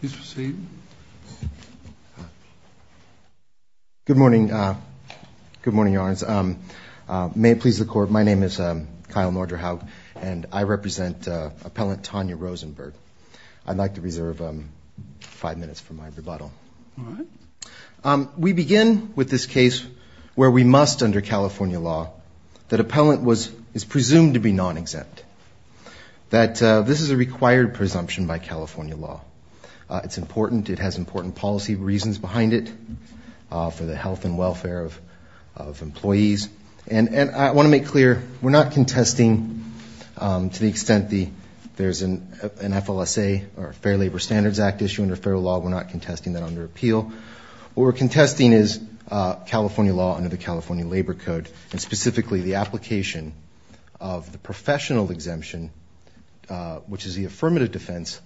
Please proceed. Good morning. Good morning, Your Honors. May it please the Court, my name is Kyle Norderhaug, and I represent appellant Tanya Rosenberg. I'd like to reserve five minutes for my rebuttal. All right. We begin with this case where we must, under California law, that appellant is presumed to be non-exempt. That this is a required presumption by California law. It's important. It has important policy reasons behind it for the health and welfare of employees. And I want to make clear, we're not contesting to the extent there's an FLSA or a Fair Labor Standards Act issue under federal law. We're not contesting that under appeal. What we're contesting is California law under the California Labor Code, and specifically the application of the professional exemption, which is the affirmative defense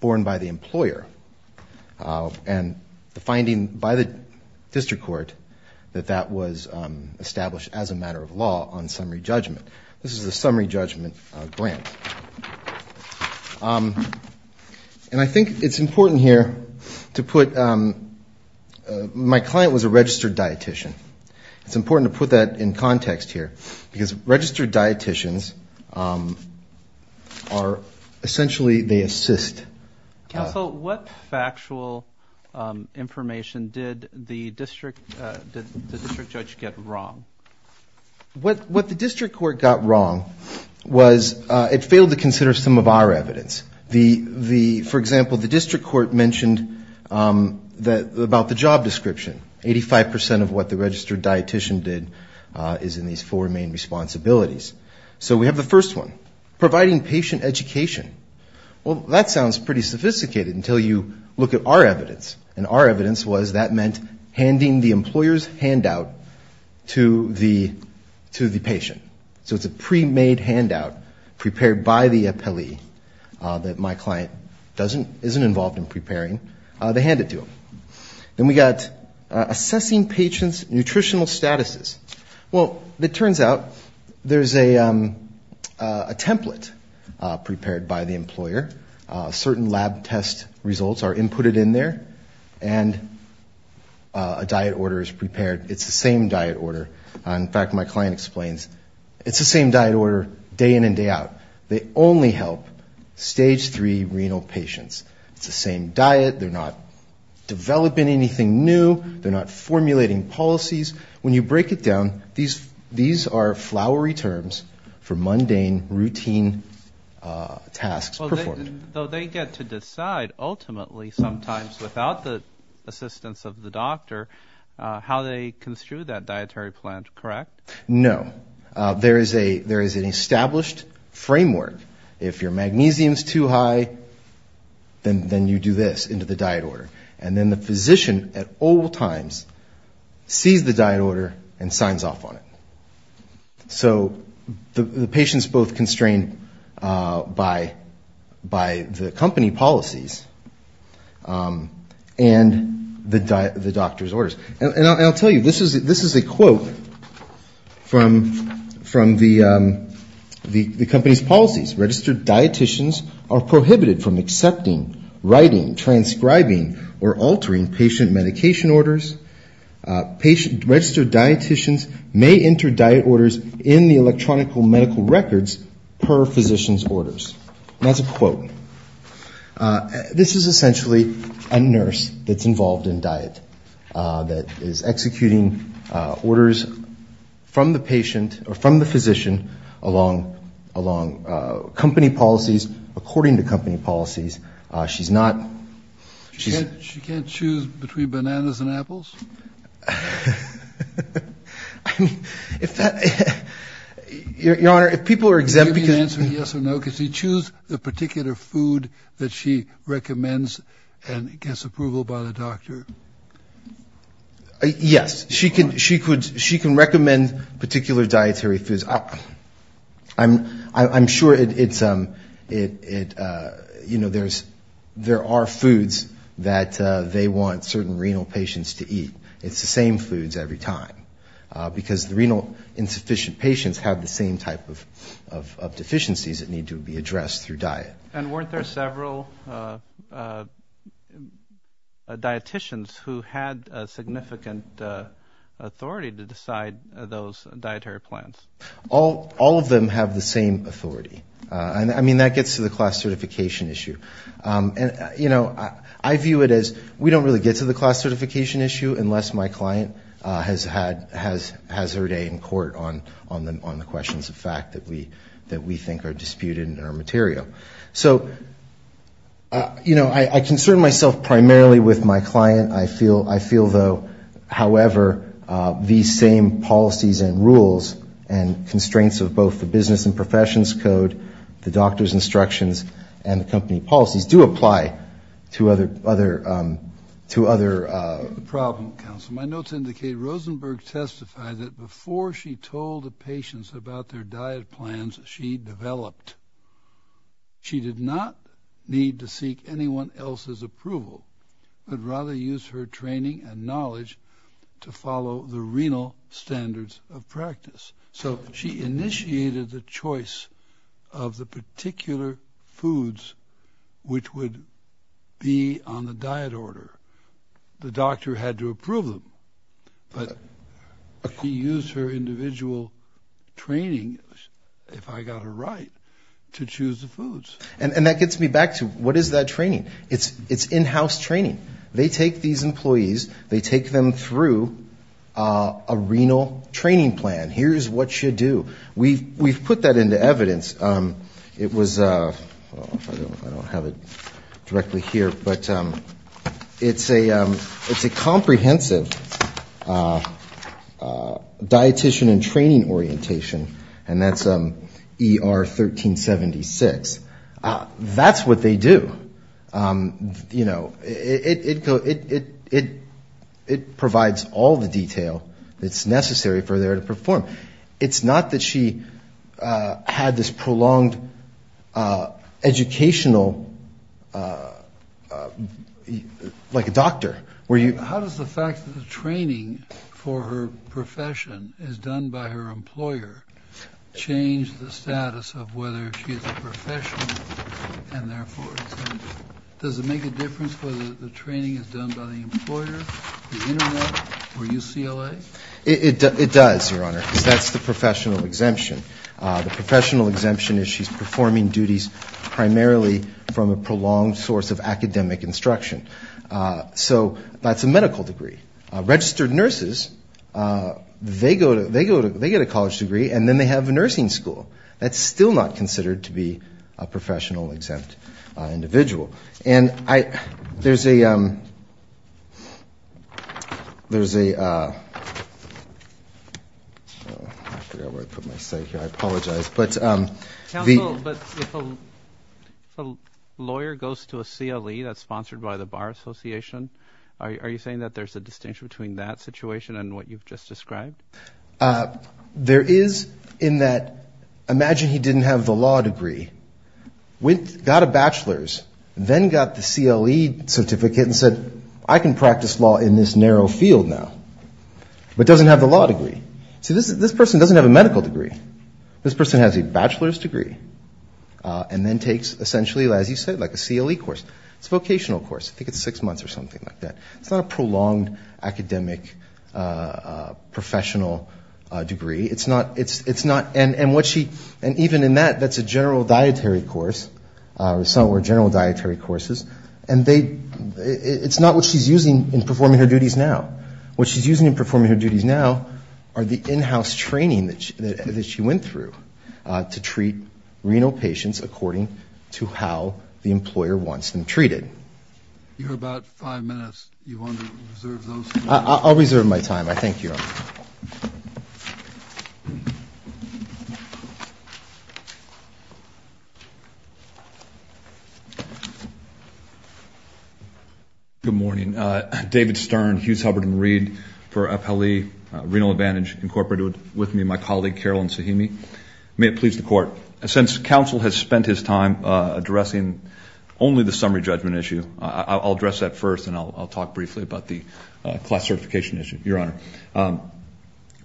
borne by the employer. And the finding by the district court that that was established as a matter of law on summary judgment. This is a summary judgment grant. And I think it's important here to put, my client was a registered dietitian. It's important to put that in context here, because registered dietitians are essentially, they assist. Counsel, what factual information did the district judge get wrong? What the district court got wrong was it failed to consider some of our evidence. For example, the district court mentioned about the job description. Eighty-five percent of what the registered dietitian did is in these four main responsibilities. So we have the first one, providing patient education. Well, that sounds pretty sophisticated until you look at our evidence. And our evidence was that meant handing the employer's handout to the patient. So it's a pre-made handout prepared by the appellee that my client isn't involved in preparing. They hand it to them. Then we got assessing patient's nutritional statuses. Well, it turns out there's a template prepared by the employer. Certain lab test results are inputted in there. And a diet order is prepared. It's the same diet order. In fact, my client explains, it's the same diet order day in and day out. They only help stage three renal patients. It's the same diet. They're not developing anything new. They're not formulating policies. When you break it down, these are flowery terms for mundane, routine tasks performed. So they get to decide ultimately sometimes without the assistance of the doctor how they construe that dietary plan, correct? No. There is an established framework. If your magnesium is too high, then you do this into the diet order. And then the physician at all times sees the diet order and signs off on it. So the patient's both constrained by the company policies and the doctor's orders. And I'll tell you, this is a quote from the company's policies. Registered dietitians are prohibited from accepting, writing, transcribing, or altering patient medication orders. Patient registered dietitians may enter diet orders in the electronic medical records per physician's orders. And that's a quote. This is essentially a nurse that's involved in diet that is executing orders from the patient or from the physician along company policies, according to company policies. She can't choose between bananas and apples? Your Honor, if people are exempt... Excuse me for answering yes or no. Can she choose the particular food that she recommends and gets approval by the doctor? Yes. She can recommend particular dietary foods. I'm sure there are foods that they want certain renal patients to eat. It's the same foods every time, because the renal insufficient patients have the same type of deficiencies that need to be addressed through diet. And weren't there several dietitians who had significant authority to decide those dietary plans? All of them have the same authority. I mean, that gets to the class certification issue. And, you know, I view it as we don't really get to the class certification issue unless my client has her day in court on the questions of fact that we think are disputed in our material. So, you know, I concern myself primarily with my client. I feel, though, however, these same policies and rules and constraints of both the business and professions code, the doctor's instructions, and the company policies do apply to other... The problem, counsel, my notes indicate Rosenberg testified that before she told the patients about their diet plans, she developed. She did not need to seek anyone else's approval, but rather use her training and knowledge to follow the renal standards of practice. So she initiated the choice of the particular foods which would be on the diet order. The doctor had to approve them. But she used her individual training, if I got her right, to choose the foods. And that gets me back to what is that training? It's in-house training. They take these employees. They take them through a renal training plan. Here's what you do. We've put that into evidence. It was, well, I don't have it directly here, but it's a comprehensive dietician and training orientation, and that's ER 1376. That's what they do. You know, it provides all the detail that's necessary for there to perform. It's not that she had this prolonged educational, like a doctor, where you... How does the fact that the training for her profession is done by her employer change the status of whether she is a professional, and therefore... Does it make a difference whether the training is done by the employer, the Internet, or UCLA? It does, Your Honor, because that's the professional exemption. The professional exemption is she's performing duties primarily from a prolonged source of academic instruction. So that's a medical degree. Registered nurses, they get a college degree, and then they have a nursing school. That's still not considered to be a professional exempt individual. I forgot where I put my slide here. I apologize. Counsel, but if a lawyer goes to a CLE that's sponsored by the Bar Association, are you saying that there's a distinction between that situation and what you've just described? There is, in that, imagine he didn't have the law degree, got a bachelor's, then got the CLE certificate and said, I can practice law in this narrow field now. But doesn't have the law degree. See, this person doesn't have a medical degree. This person has a bachelor's degree, and then takes essentially, as you said, like a CLE course. It's a vocational course. I think it's six months or something like that. It's not a prolonged academic professional degree. And even in that, that's a general dietary course. It's not what she's using in performing her duties now. What she's using in performing her duties now are the in-house training that she went through to treat renal patients according to how the employer wants them treated. You have about five minutes. I'll reserve my time. I thank you. Good morning. David Stern, Hughes, Hubbard, and Reed for Appellee Renal Advantage Incorporated. With me, my colleague, Carolyn Sahimi. May it please the Court, since counsel has spent his time addressing only the summary judgment issue, I'll address that first, and I'll talk briefly about the class certification issue, Your Honor. A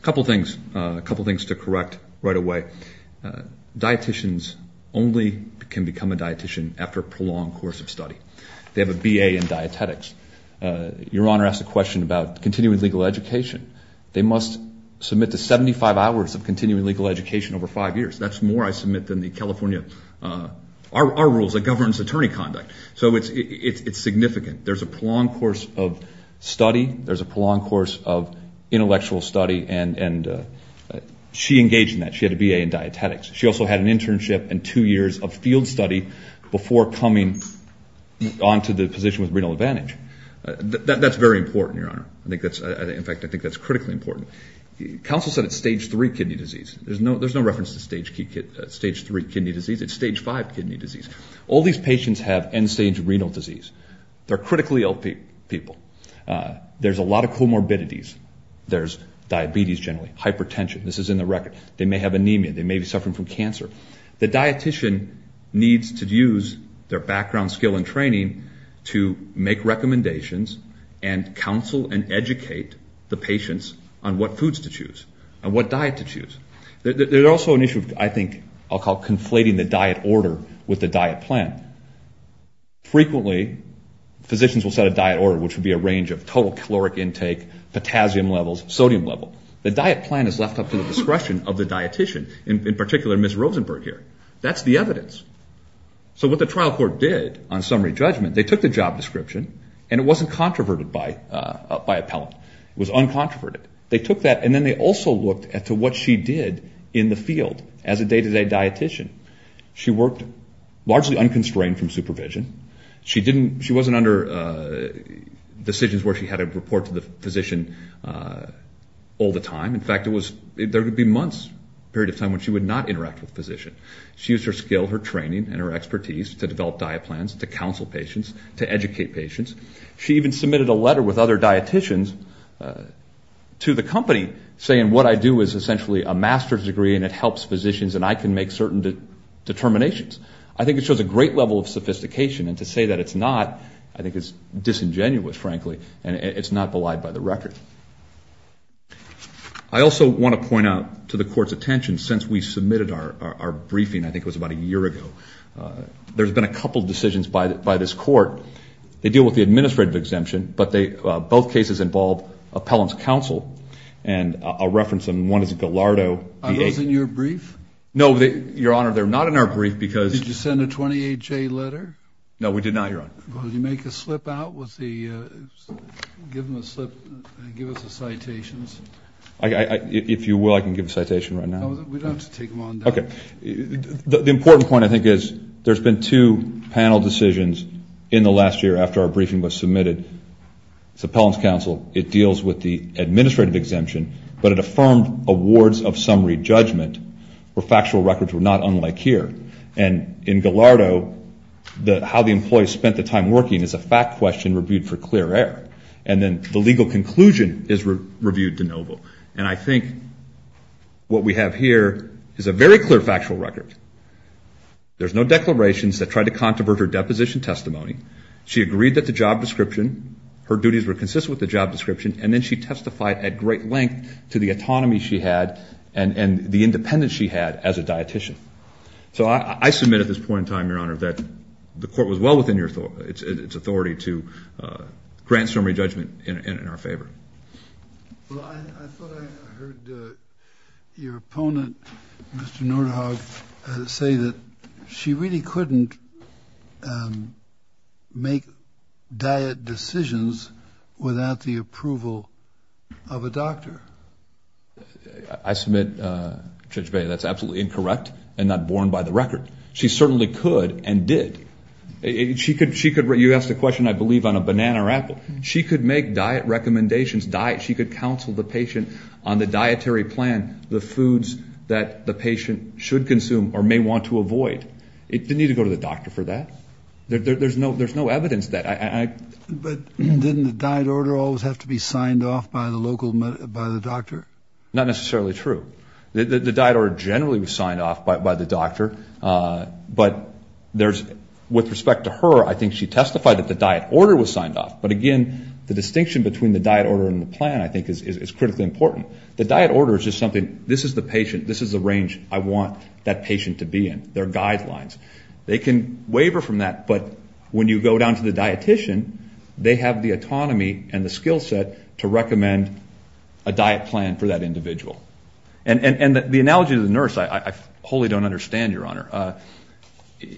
couple things to correct right away. Dietitians only can become a dietitian after a prolonged course of study. They have a BA in dietetics. Your Honor asked a question about continuing legal education. They must submit to 75 hours of continuing legal education over five years. That's more, I submit, than the California, our rules, that governs attorney conduct. So it's significant. There's a prolonged course of study, there's a prolonged course of intellectual study, and she engaged in that. She had a BA in dietetics. She also had an internship and two years of field study before coming onto the position with renal advantage. That's very important, Your Honor. In fact, I think that's critically important. Counsel said it's stage three kidney disease. There's no reference to stage three kidney disease. It's stage five kidney disease. All these patients have end-stage renal disease. They're critically ill people. There's a lot of comorbidities. There's diabetes generally, hypertension. This is in the record. They may have anemia. They may be suffering from cancer. The dietitian needs to use their background, skill, and training to make recommendations and counsel and educate the patients on what foods to choose and what diet to choose. There's also an issue of, I think, I'll call conflating the diet order with the diet plan. Frequently, physicians will set a diet order, which would be a range of total caloric intake, potassium levels, sodium level. The diet plan is left up to the discretion of the dietitian, in particular Ms. Rosenberg here. That's the evidence. So what the trial court did on summary judgment, they took the job description, and it wasn't controverted by appellant. It was uncontroverted. They took that, and then they also looked at what she did in the field as a day-to-day dietitian. She worked largely unconstrained from supervision. She wasn't under decisions where she had to report to the physician all the time. In fact, there would be months' period of time when she would not interact with the physician. She used her skill, her training, and her expertise to develop diet plans, to counsel patients, to educate patients. She even submitted a letter with other dietitians to the company, saying what I do is essentially a master's degree, and it helps physicians, and I can make certain determinations. I think it shows a great level of sophistication. And to say that it's not, I think it's disingenuous, frankly, and it's not belied by the record. I also want to point out to the Court's attention, since we submitted our briefing, I think it was about a year ago, there's been a couple of decisions by this Court. They deal with the administrative exemption, but both cases involve appellant's counsel. And I'll reference them. One is Gallardo. Are those in your brief? No, Your Honor, they're not in our brief. Did you send a 28-J letter? No, we did not, Your Honor. If you will, I can give a citation right now. Okay. The important point, I think, is there's been two panel decisions in the last year after our briefing was submitted. It's appellant's counsel. It deals with the administrative exemption, but it affirmed awards of summary judgment where factual records were not unlike here. And in Gallardo, how the employee spent the time working is a fact question reviewed for clear error. And then the legal conclusion is reviewed de novo. And I think what we have here is a very clear factual record. There's no declarations that try to controvert her deposition testimony. She agreed that the job description, her duties were consistent with the job description, and then she testified at great length to the autonomy she had and the independence she had as a dietician. So I submit at this point in time, Your Honor, that the court was well within its authority to grant summary judgment in our favor. Well, I thought I heard your opponent, Mr. Nordhoff, say that she really couldn't make diet decisions without the approval of a doctor. I submit, Judge Boehner, that's absolutely incorrect and not borne by the record. She certainly could and did. You asked a question, I believe, on a banana or apple. She could make diet recommendations, diet, she could counsel the patient on the dietary plan, the foods that the patient should consume or may want to avoid. It didn't need to go to the doctor for that. But didn't the diet order always have to be signed off by the doctor? Not necessarily true. The diet order generally was signed off by the doctor, but with respect to her, I think she testified that the diet order was signed off. But again, the distinction between the diet order and the plan, I think, is critically important. The diet order is just something, this is the patient, this is the range I want that patient to be in. There are guidelines. They can waiver from that, but when you go down to the dietician, they have the autonomy and the skill set to recommend a diet plan for that individual. And the analogy of the nurse I wholly don't understand, Your Honor.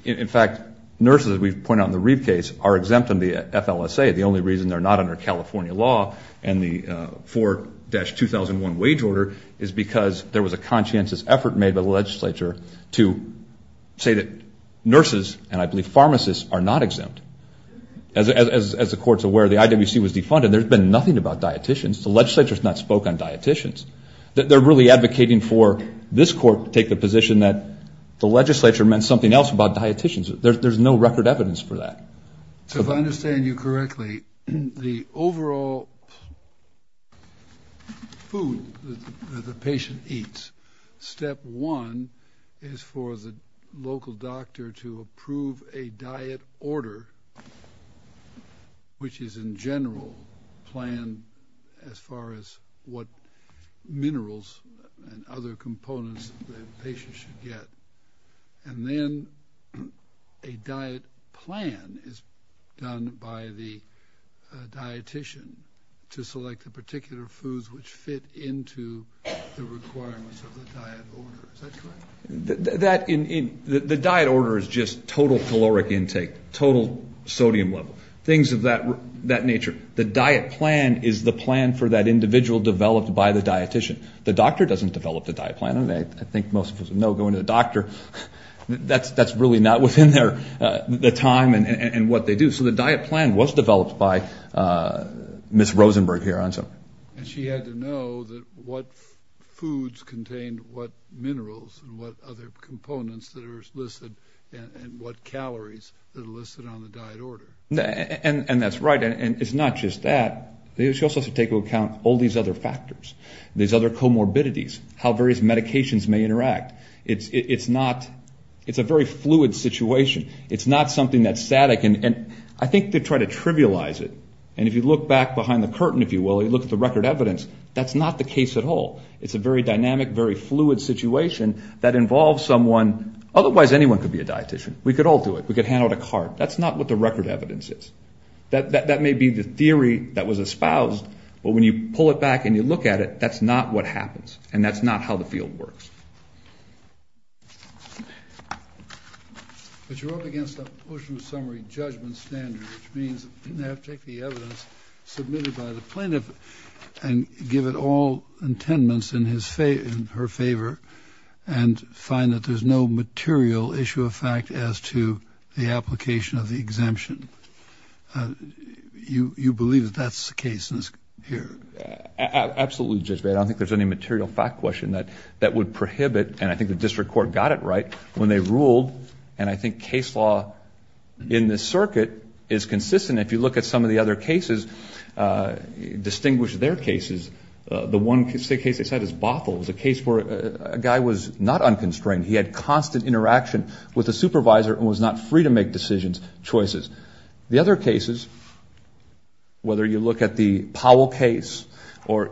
In fact, nurses, as we've pointed out in the Reeve case, are exempt under the FLSA. The only reason they're not under California law and the 4-2001 wage order is because there was a conscientious effort made by the legislature to say that nurses and I believe pharmacists are not exempt. As the court's aware, the IWC was defunded. There's been nothing about dieticians. The legislature has not spoken on dieticians. They're really advocating for this court to take the position that the legislature meant something else about dieticians. There's no record evidence for that. So if I understand you correctly, the overall food that the patient eats, step one is for the local doctor to approve a diet order, which is in general planned as far as what minerals and other components the patient should get. And then a diet plan is done by the dietician to select the particular foods which fit into the requirements of the diet order. Is that correct? The diet order is just total caloric intake, total sodium level, things of that nature. The diet plan is the plan for that individual developed by the dietician. The doctor doesn't develop the diet plan. I think most of us know going to the doctor, that's really not within the time and what they do. So the diet plan was developed by Ms. Rosenberg here. And she had to know what foods contained what minerals and what other components that are listed and what calories that are listed on the diet order. And that's right, and it's not just that. She also has to take into account all these other factors, these other comorbidities, how various medications may interact. It's a very fluid situation. It's not something that's static. And I think they try to trivialize it. And if you look back behind the curtain, if you will, you look at the record evidence, that's not the case at all. It's a very dynamic, very fluid situation that involves someone. Otherwise anyone could be a dietician. We could all do it. We could hand out a card. That's not what the record evidence is. That may be the theory that was espoused, but when you pull it back and you look at it, that's not what happens. And that's not how the field works. But you're up against a portion of summary judgment standard, which means they have to take the evidence submitted by the plaintiff and give it all intendance in her favor and find that there's no material issue of fact as to the application of the exemption. You believe that that's the case here? Absolutely, Judge Bader. I don't think there's any material fact question that would prohibit, and I think the district court got it right when they ruled, and I think case law in this circuit is consistent. If you look at some of the other cases, distinguish their cases. The one case they said is Bothell. It was a case where a guy was not unconstrained. He had constant interaction with a supervisor and was not free to make decisions, choices. The other cases, whether you look at the Powell case or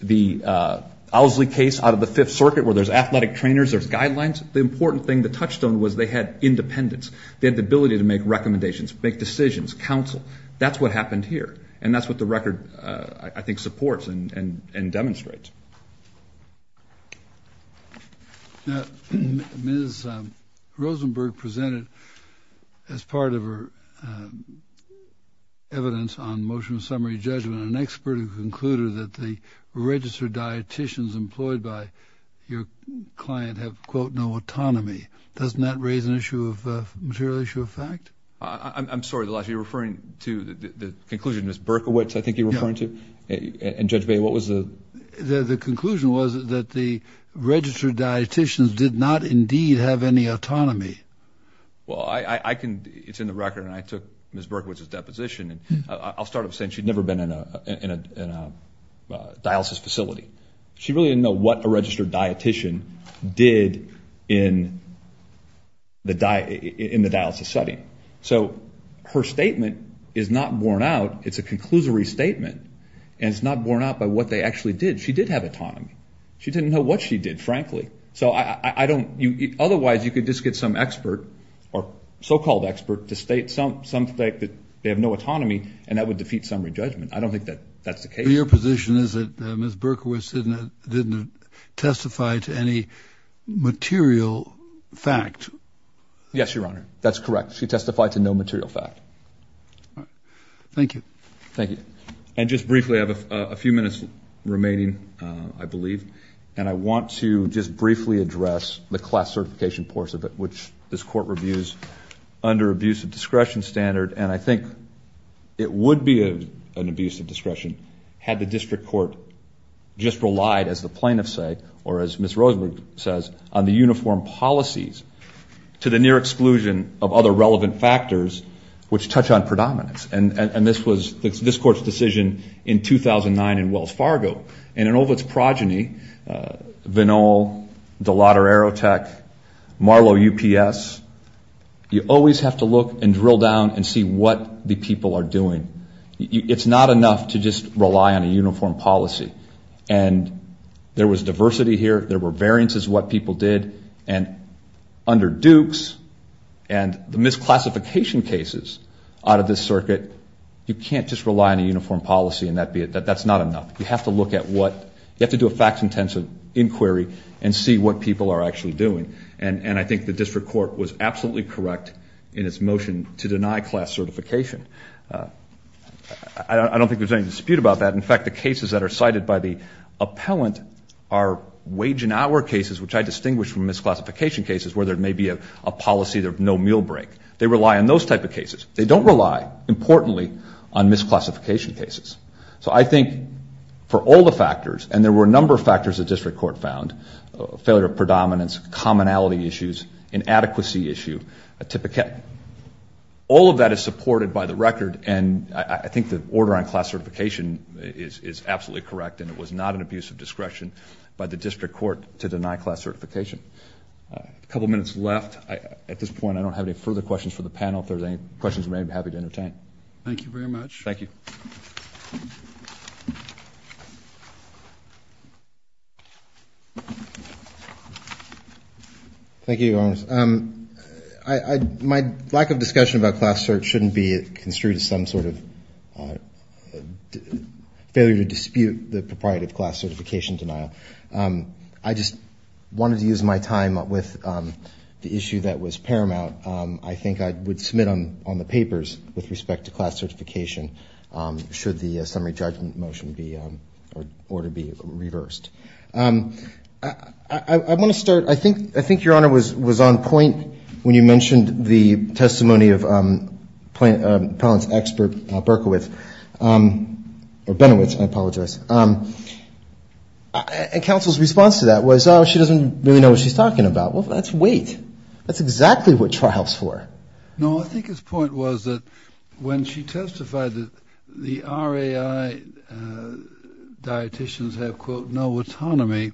the Owsley case out of the Fifth Circuit, where there's athletic trainers, there's guidelines, the important thing, the touchstone was they had independence. They had the ability to make recommendations, make decisions, counsel. That's what happened here, and that's what the record, I think, supports and demonstrates. Now, Ms. Rosenberg presented, as part of her evidence on motion of summary judgment, an expert who concluded that the registered dietitians employed by your client have, quote, no autonomy. Doesn't that raise an issue of material issue of fact? I'm sorry, you're referring to the conclusion Ms. Berkowitz, I think you're referring to? And, Judge Bader, what was the? The conclusion was that the registered dietitians did not indeed have any autonomy. Well, I can, it's in the record, and I took Ms. Berkowitz's deposition, and I'll start off saying she'd never been in a dialysis facility. She really didn't know what a registered dietitian did in the dialysis setting. So her statement is not borne out. It's a conclusory statement, and it's not borne out by what they actually did. She did have autonomy. She didn't know what she did, frankly. So I don't, otherwise you could just get some expert, or so-called expert, to state something that they have no autonomy, and that would defeat summary judgment. I don't think that's the case. So your position is that Ms. Berkowitz didn't testify to any material fact? Yes, Your Honor. That's correct. She testified to no material fact. Thank you. And just briefly, I have a few minutes remaining, I believe, and I want to just briefly address the class certification portion of it, which this Court reviews under abusive discretion standard, and I think it would be an abuse of discretion had the district court just relied, as the plaintiffs say, or as Ms. Rosenberg says, on the uniform policies to the near exclusion of other relevant factors which touch on predominance. And this was this Court's decision in 2009 in Wells Fargo, and in all of its progeny, Vinol, DeLotta Aerotech, Marlow UPS, you always have to look and drill down and see what the people are doing. It's not enough to just rely on a uniform policy. And there was diversity here, there were variances in what people did, and under Dukes and the misclassification cases out of this circuit, you can't just rely on a uniform policy and that's not enough. You have to do a facts-intensive inquiry and see what people are actually doing. And I think the district court was absolutely correct in its motion to deny class certification. I don't think there's any dispute about that. In fact, the cases that are cited by the appellant are wage and hour cases, which I distinguish from misclassification cases where there may be a policy of no meal break. They rely on those type of cases. They don't rely, importantly, on misclassification cases. So I think for all the factors, and there were a number of factors the district court found, failure of predominance, commonality issues, inadequacy issue, etypica. All of that is supported by the record, and I think the order on class certification is absolutely correct, and it was not an abuse of discretion by the district court to deny class certification. A couple minutes left. At this point, I don't have any further questions for the panel. If there's any questions, I'd be happy to entertain. My lack of discussion about class search shouldn't be construed as some sort of failure to dispute the propriety of class certification denial. I just wanted to use my time with the issue that was paramount. I think I would submit on the papers with respect to class certification, should the summary judgment motion be reversed. I want to start. I think Your Honor was on point when you mentioned the testimony of appellant's expert Berkowitz. And counsel's response to that was, oh, she doesn't really know what she's talking about. Well, that's weight. That's exactly what trial's for. No, I think his point was that when she testified that the RAI dietitians have, quote, no autonomy,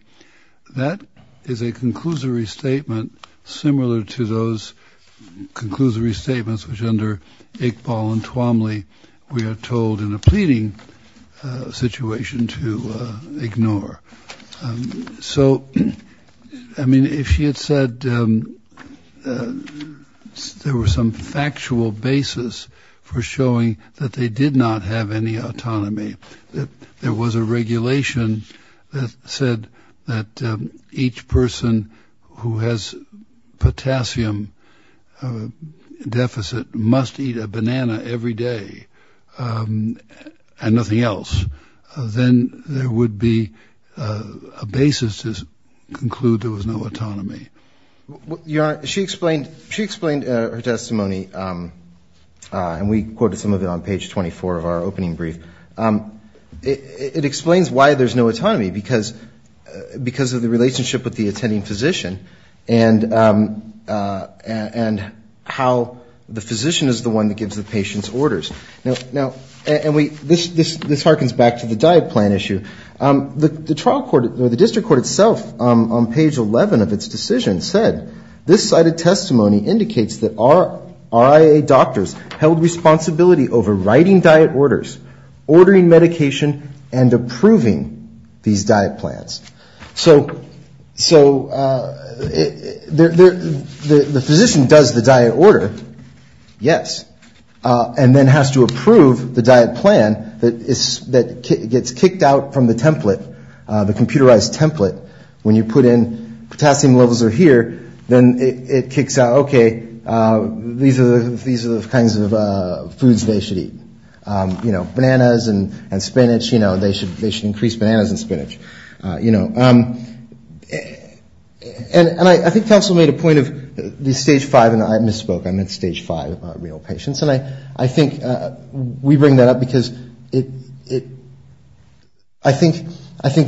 that is a conclusory statement similar to those conclusory statements which under Iqbal and Twomley we are told in a pleading situation to ignore. So, I mean, if she had said there was some factual basis for showing that they did not have any autonomy, that there was a regulation that said that each person who has potassium deficit must eat a banana every day and nothing else, then there would be a basis to conclude there was no autonomy. Your Honor, she explained her testimony, and we quoted some of it on page 24 of our opening brief. It explains why there's no autonomy, because of the relationship with the attending physician and how the physician is the one that gives the patient's orders. Now, and this harkens back to the diet plan issue. The trial court or the district court itself on page 11 of its decision said, this cited testimony indicates that RIA doctors held responsibility over writing diet orders, ordering medication and approving these diet plans. So the physician does the diet order, yes. And then has to approve the diet plan that gets kicked out from the template, the computerized template, when you put in potassium levels are here, then it kicks out, okay, these are the kinds of foods they should eat. Bananas and spinach, they should increase bananas and spinach. And I think counsel made a point of the stage five, and I misspoke, I meant stage five renal patients, and I think we bring that up because it, I think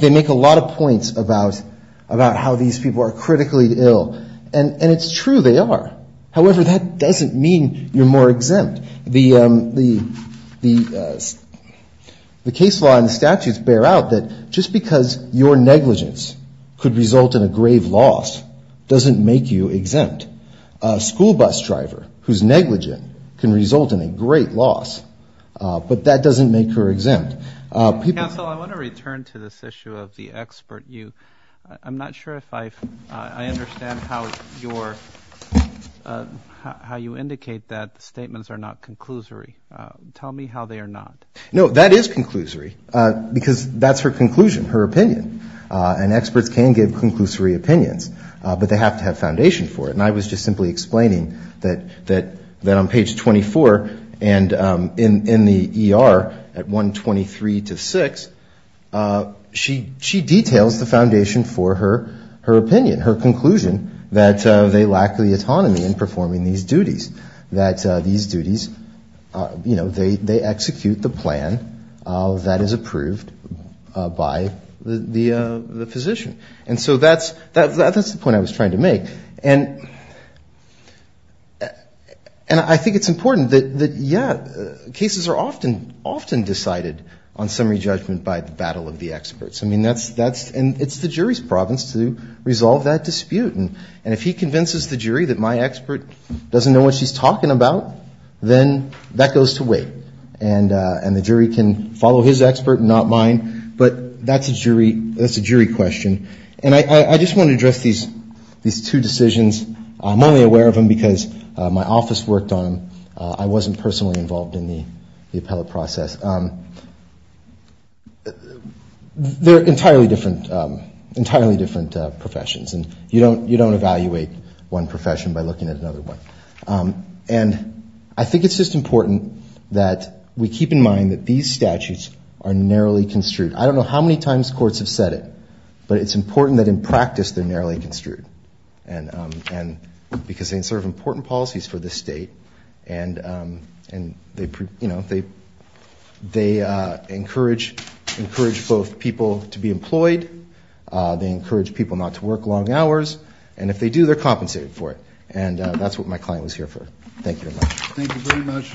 they make a lot of points about how these people are critically ill, and it's true, they are. However, that doesn't mean you're more exempt. The case law and the statutes bear out that just because your negligence could result in a grave loss doesn't make you exempt. A school bus driver whose negligence can result in a great loss, but that doesn't make her exempt. Counsel, I want to return to this issue of the expert. I'm not sure if I understand how your, how you indicate that statements are not conclusory. Tell me how they are not. No, that is conclusory, because that's her conclusion, her opinion. And experts can give conclusory opinions, but they have to have foundation for it. And I was just simply explaining that on page 24 and in the ER at 123 to 6, she details the foundation for her opinion, her conclusion that they lack the autonomy in performing these duties, that these duties, you know, they execute the plan that is approved by the physician. And so that's the point I was trying to make. And I think it's important that, yeah, cases are often decided on summary judgment by the battle of the experts. I mean, that's, and it's the jury's province to resolve that dispute. And if he convinces the jury that my expert doesn't know what she's talking about, then that goes to wait. And the jury can follow his expert and not mine, but that's a jury question. And I just want to address these two decisions. I'm only aware of them because my office worked on them. I wasn't personally involved in the appellate process. And they're entirely different professions. And you don't evaluate one profession by looking at another one. And I think it's just important that we keep in mind that these statutes are narrowly construed. I don't know how many times courts have said it, but it's important that in practice they're narrowly construed, because they serve important policies for the state. They encourage both people to be employed. They encourage people not to work long hours. And if they do, they're compensated for it. And that's what my client was here for. Thank you very much.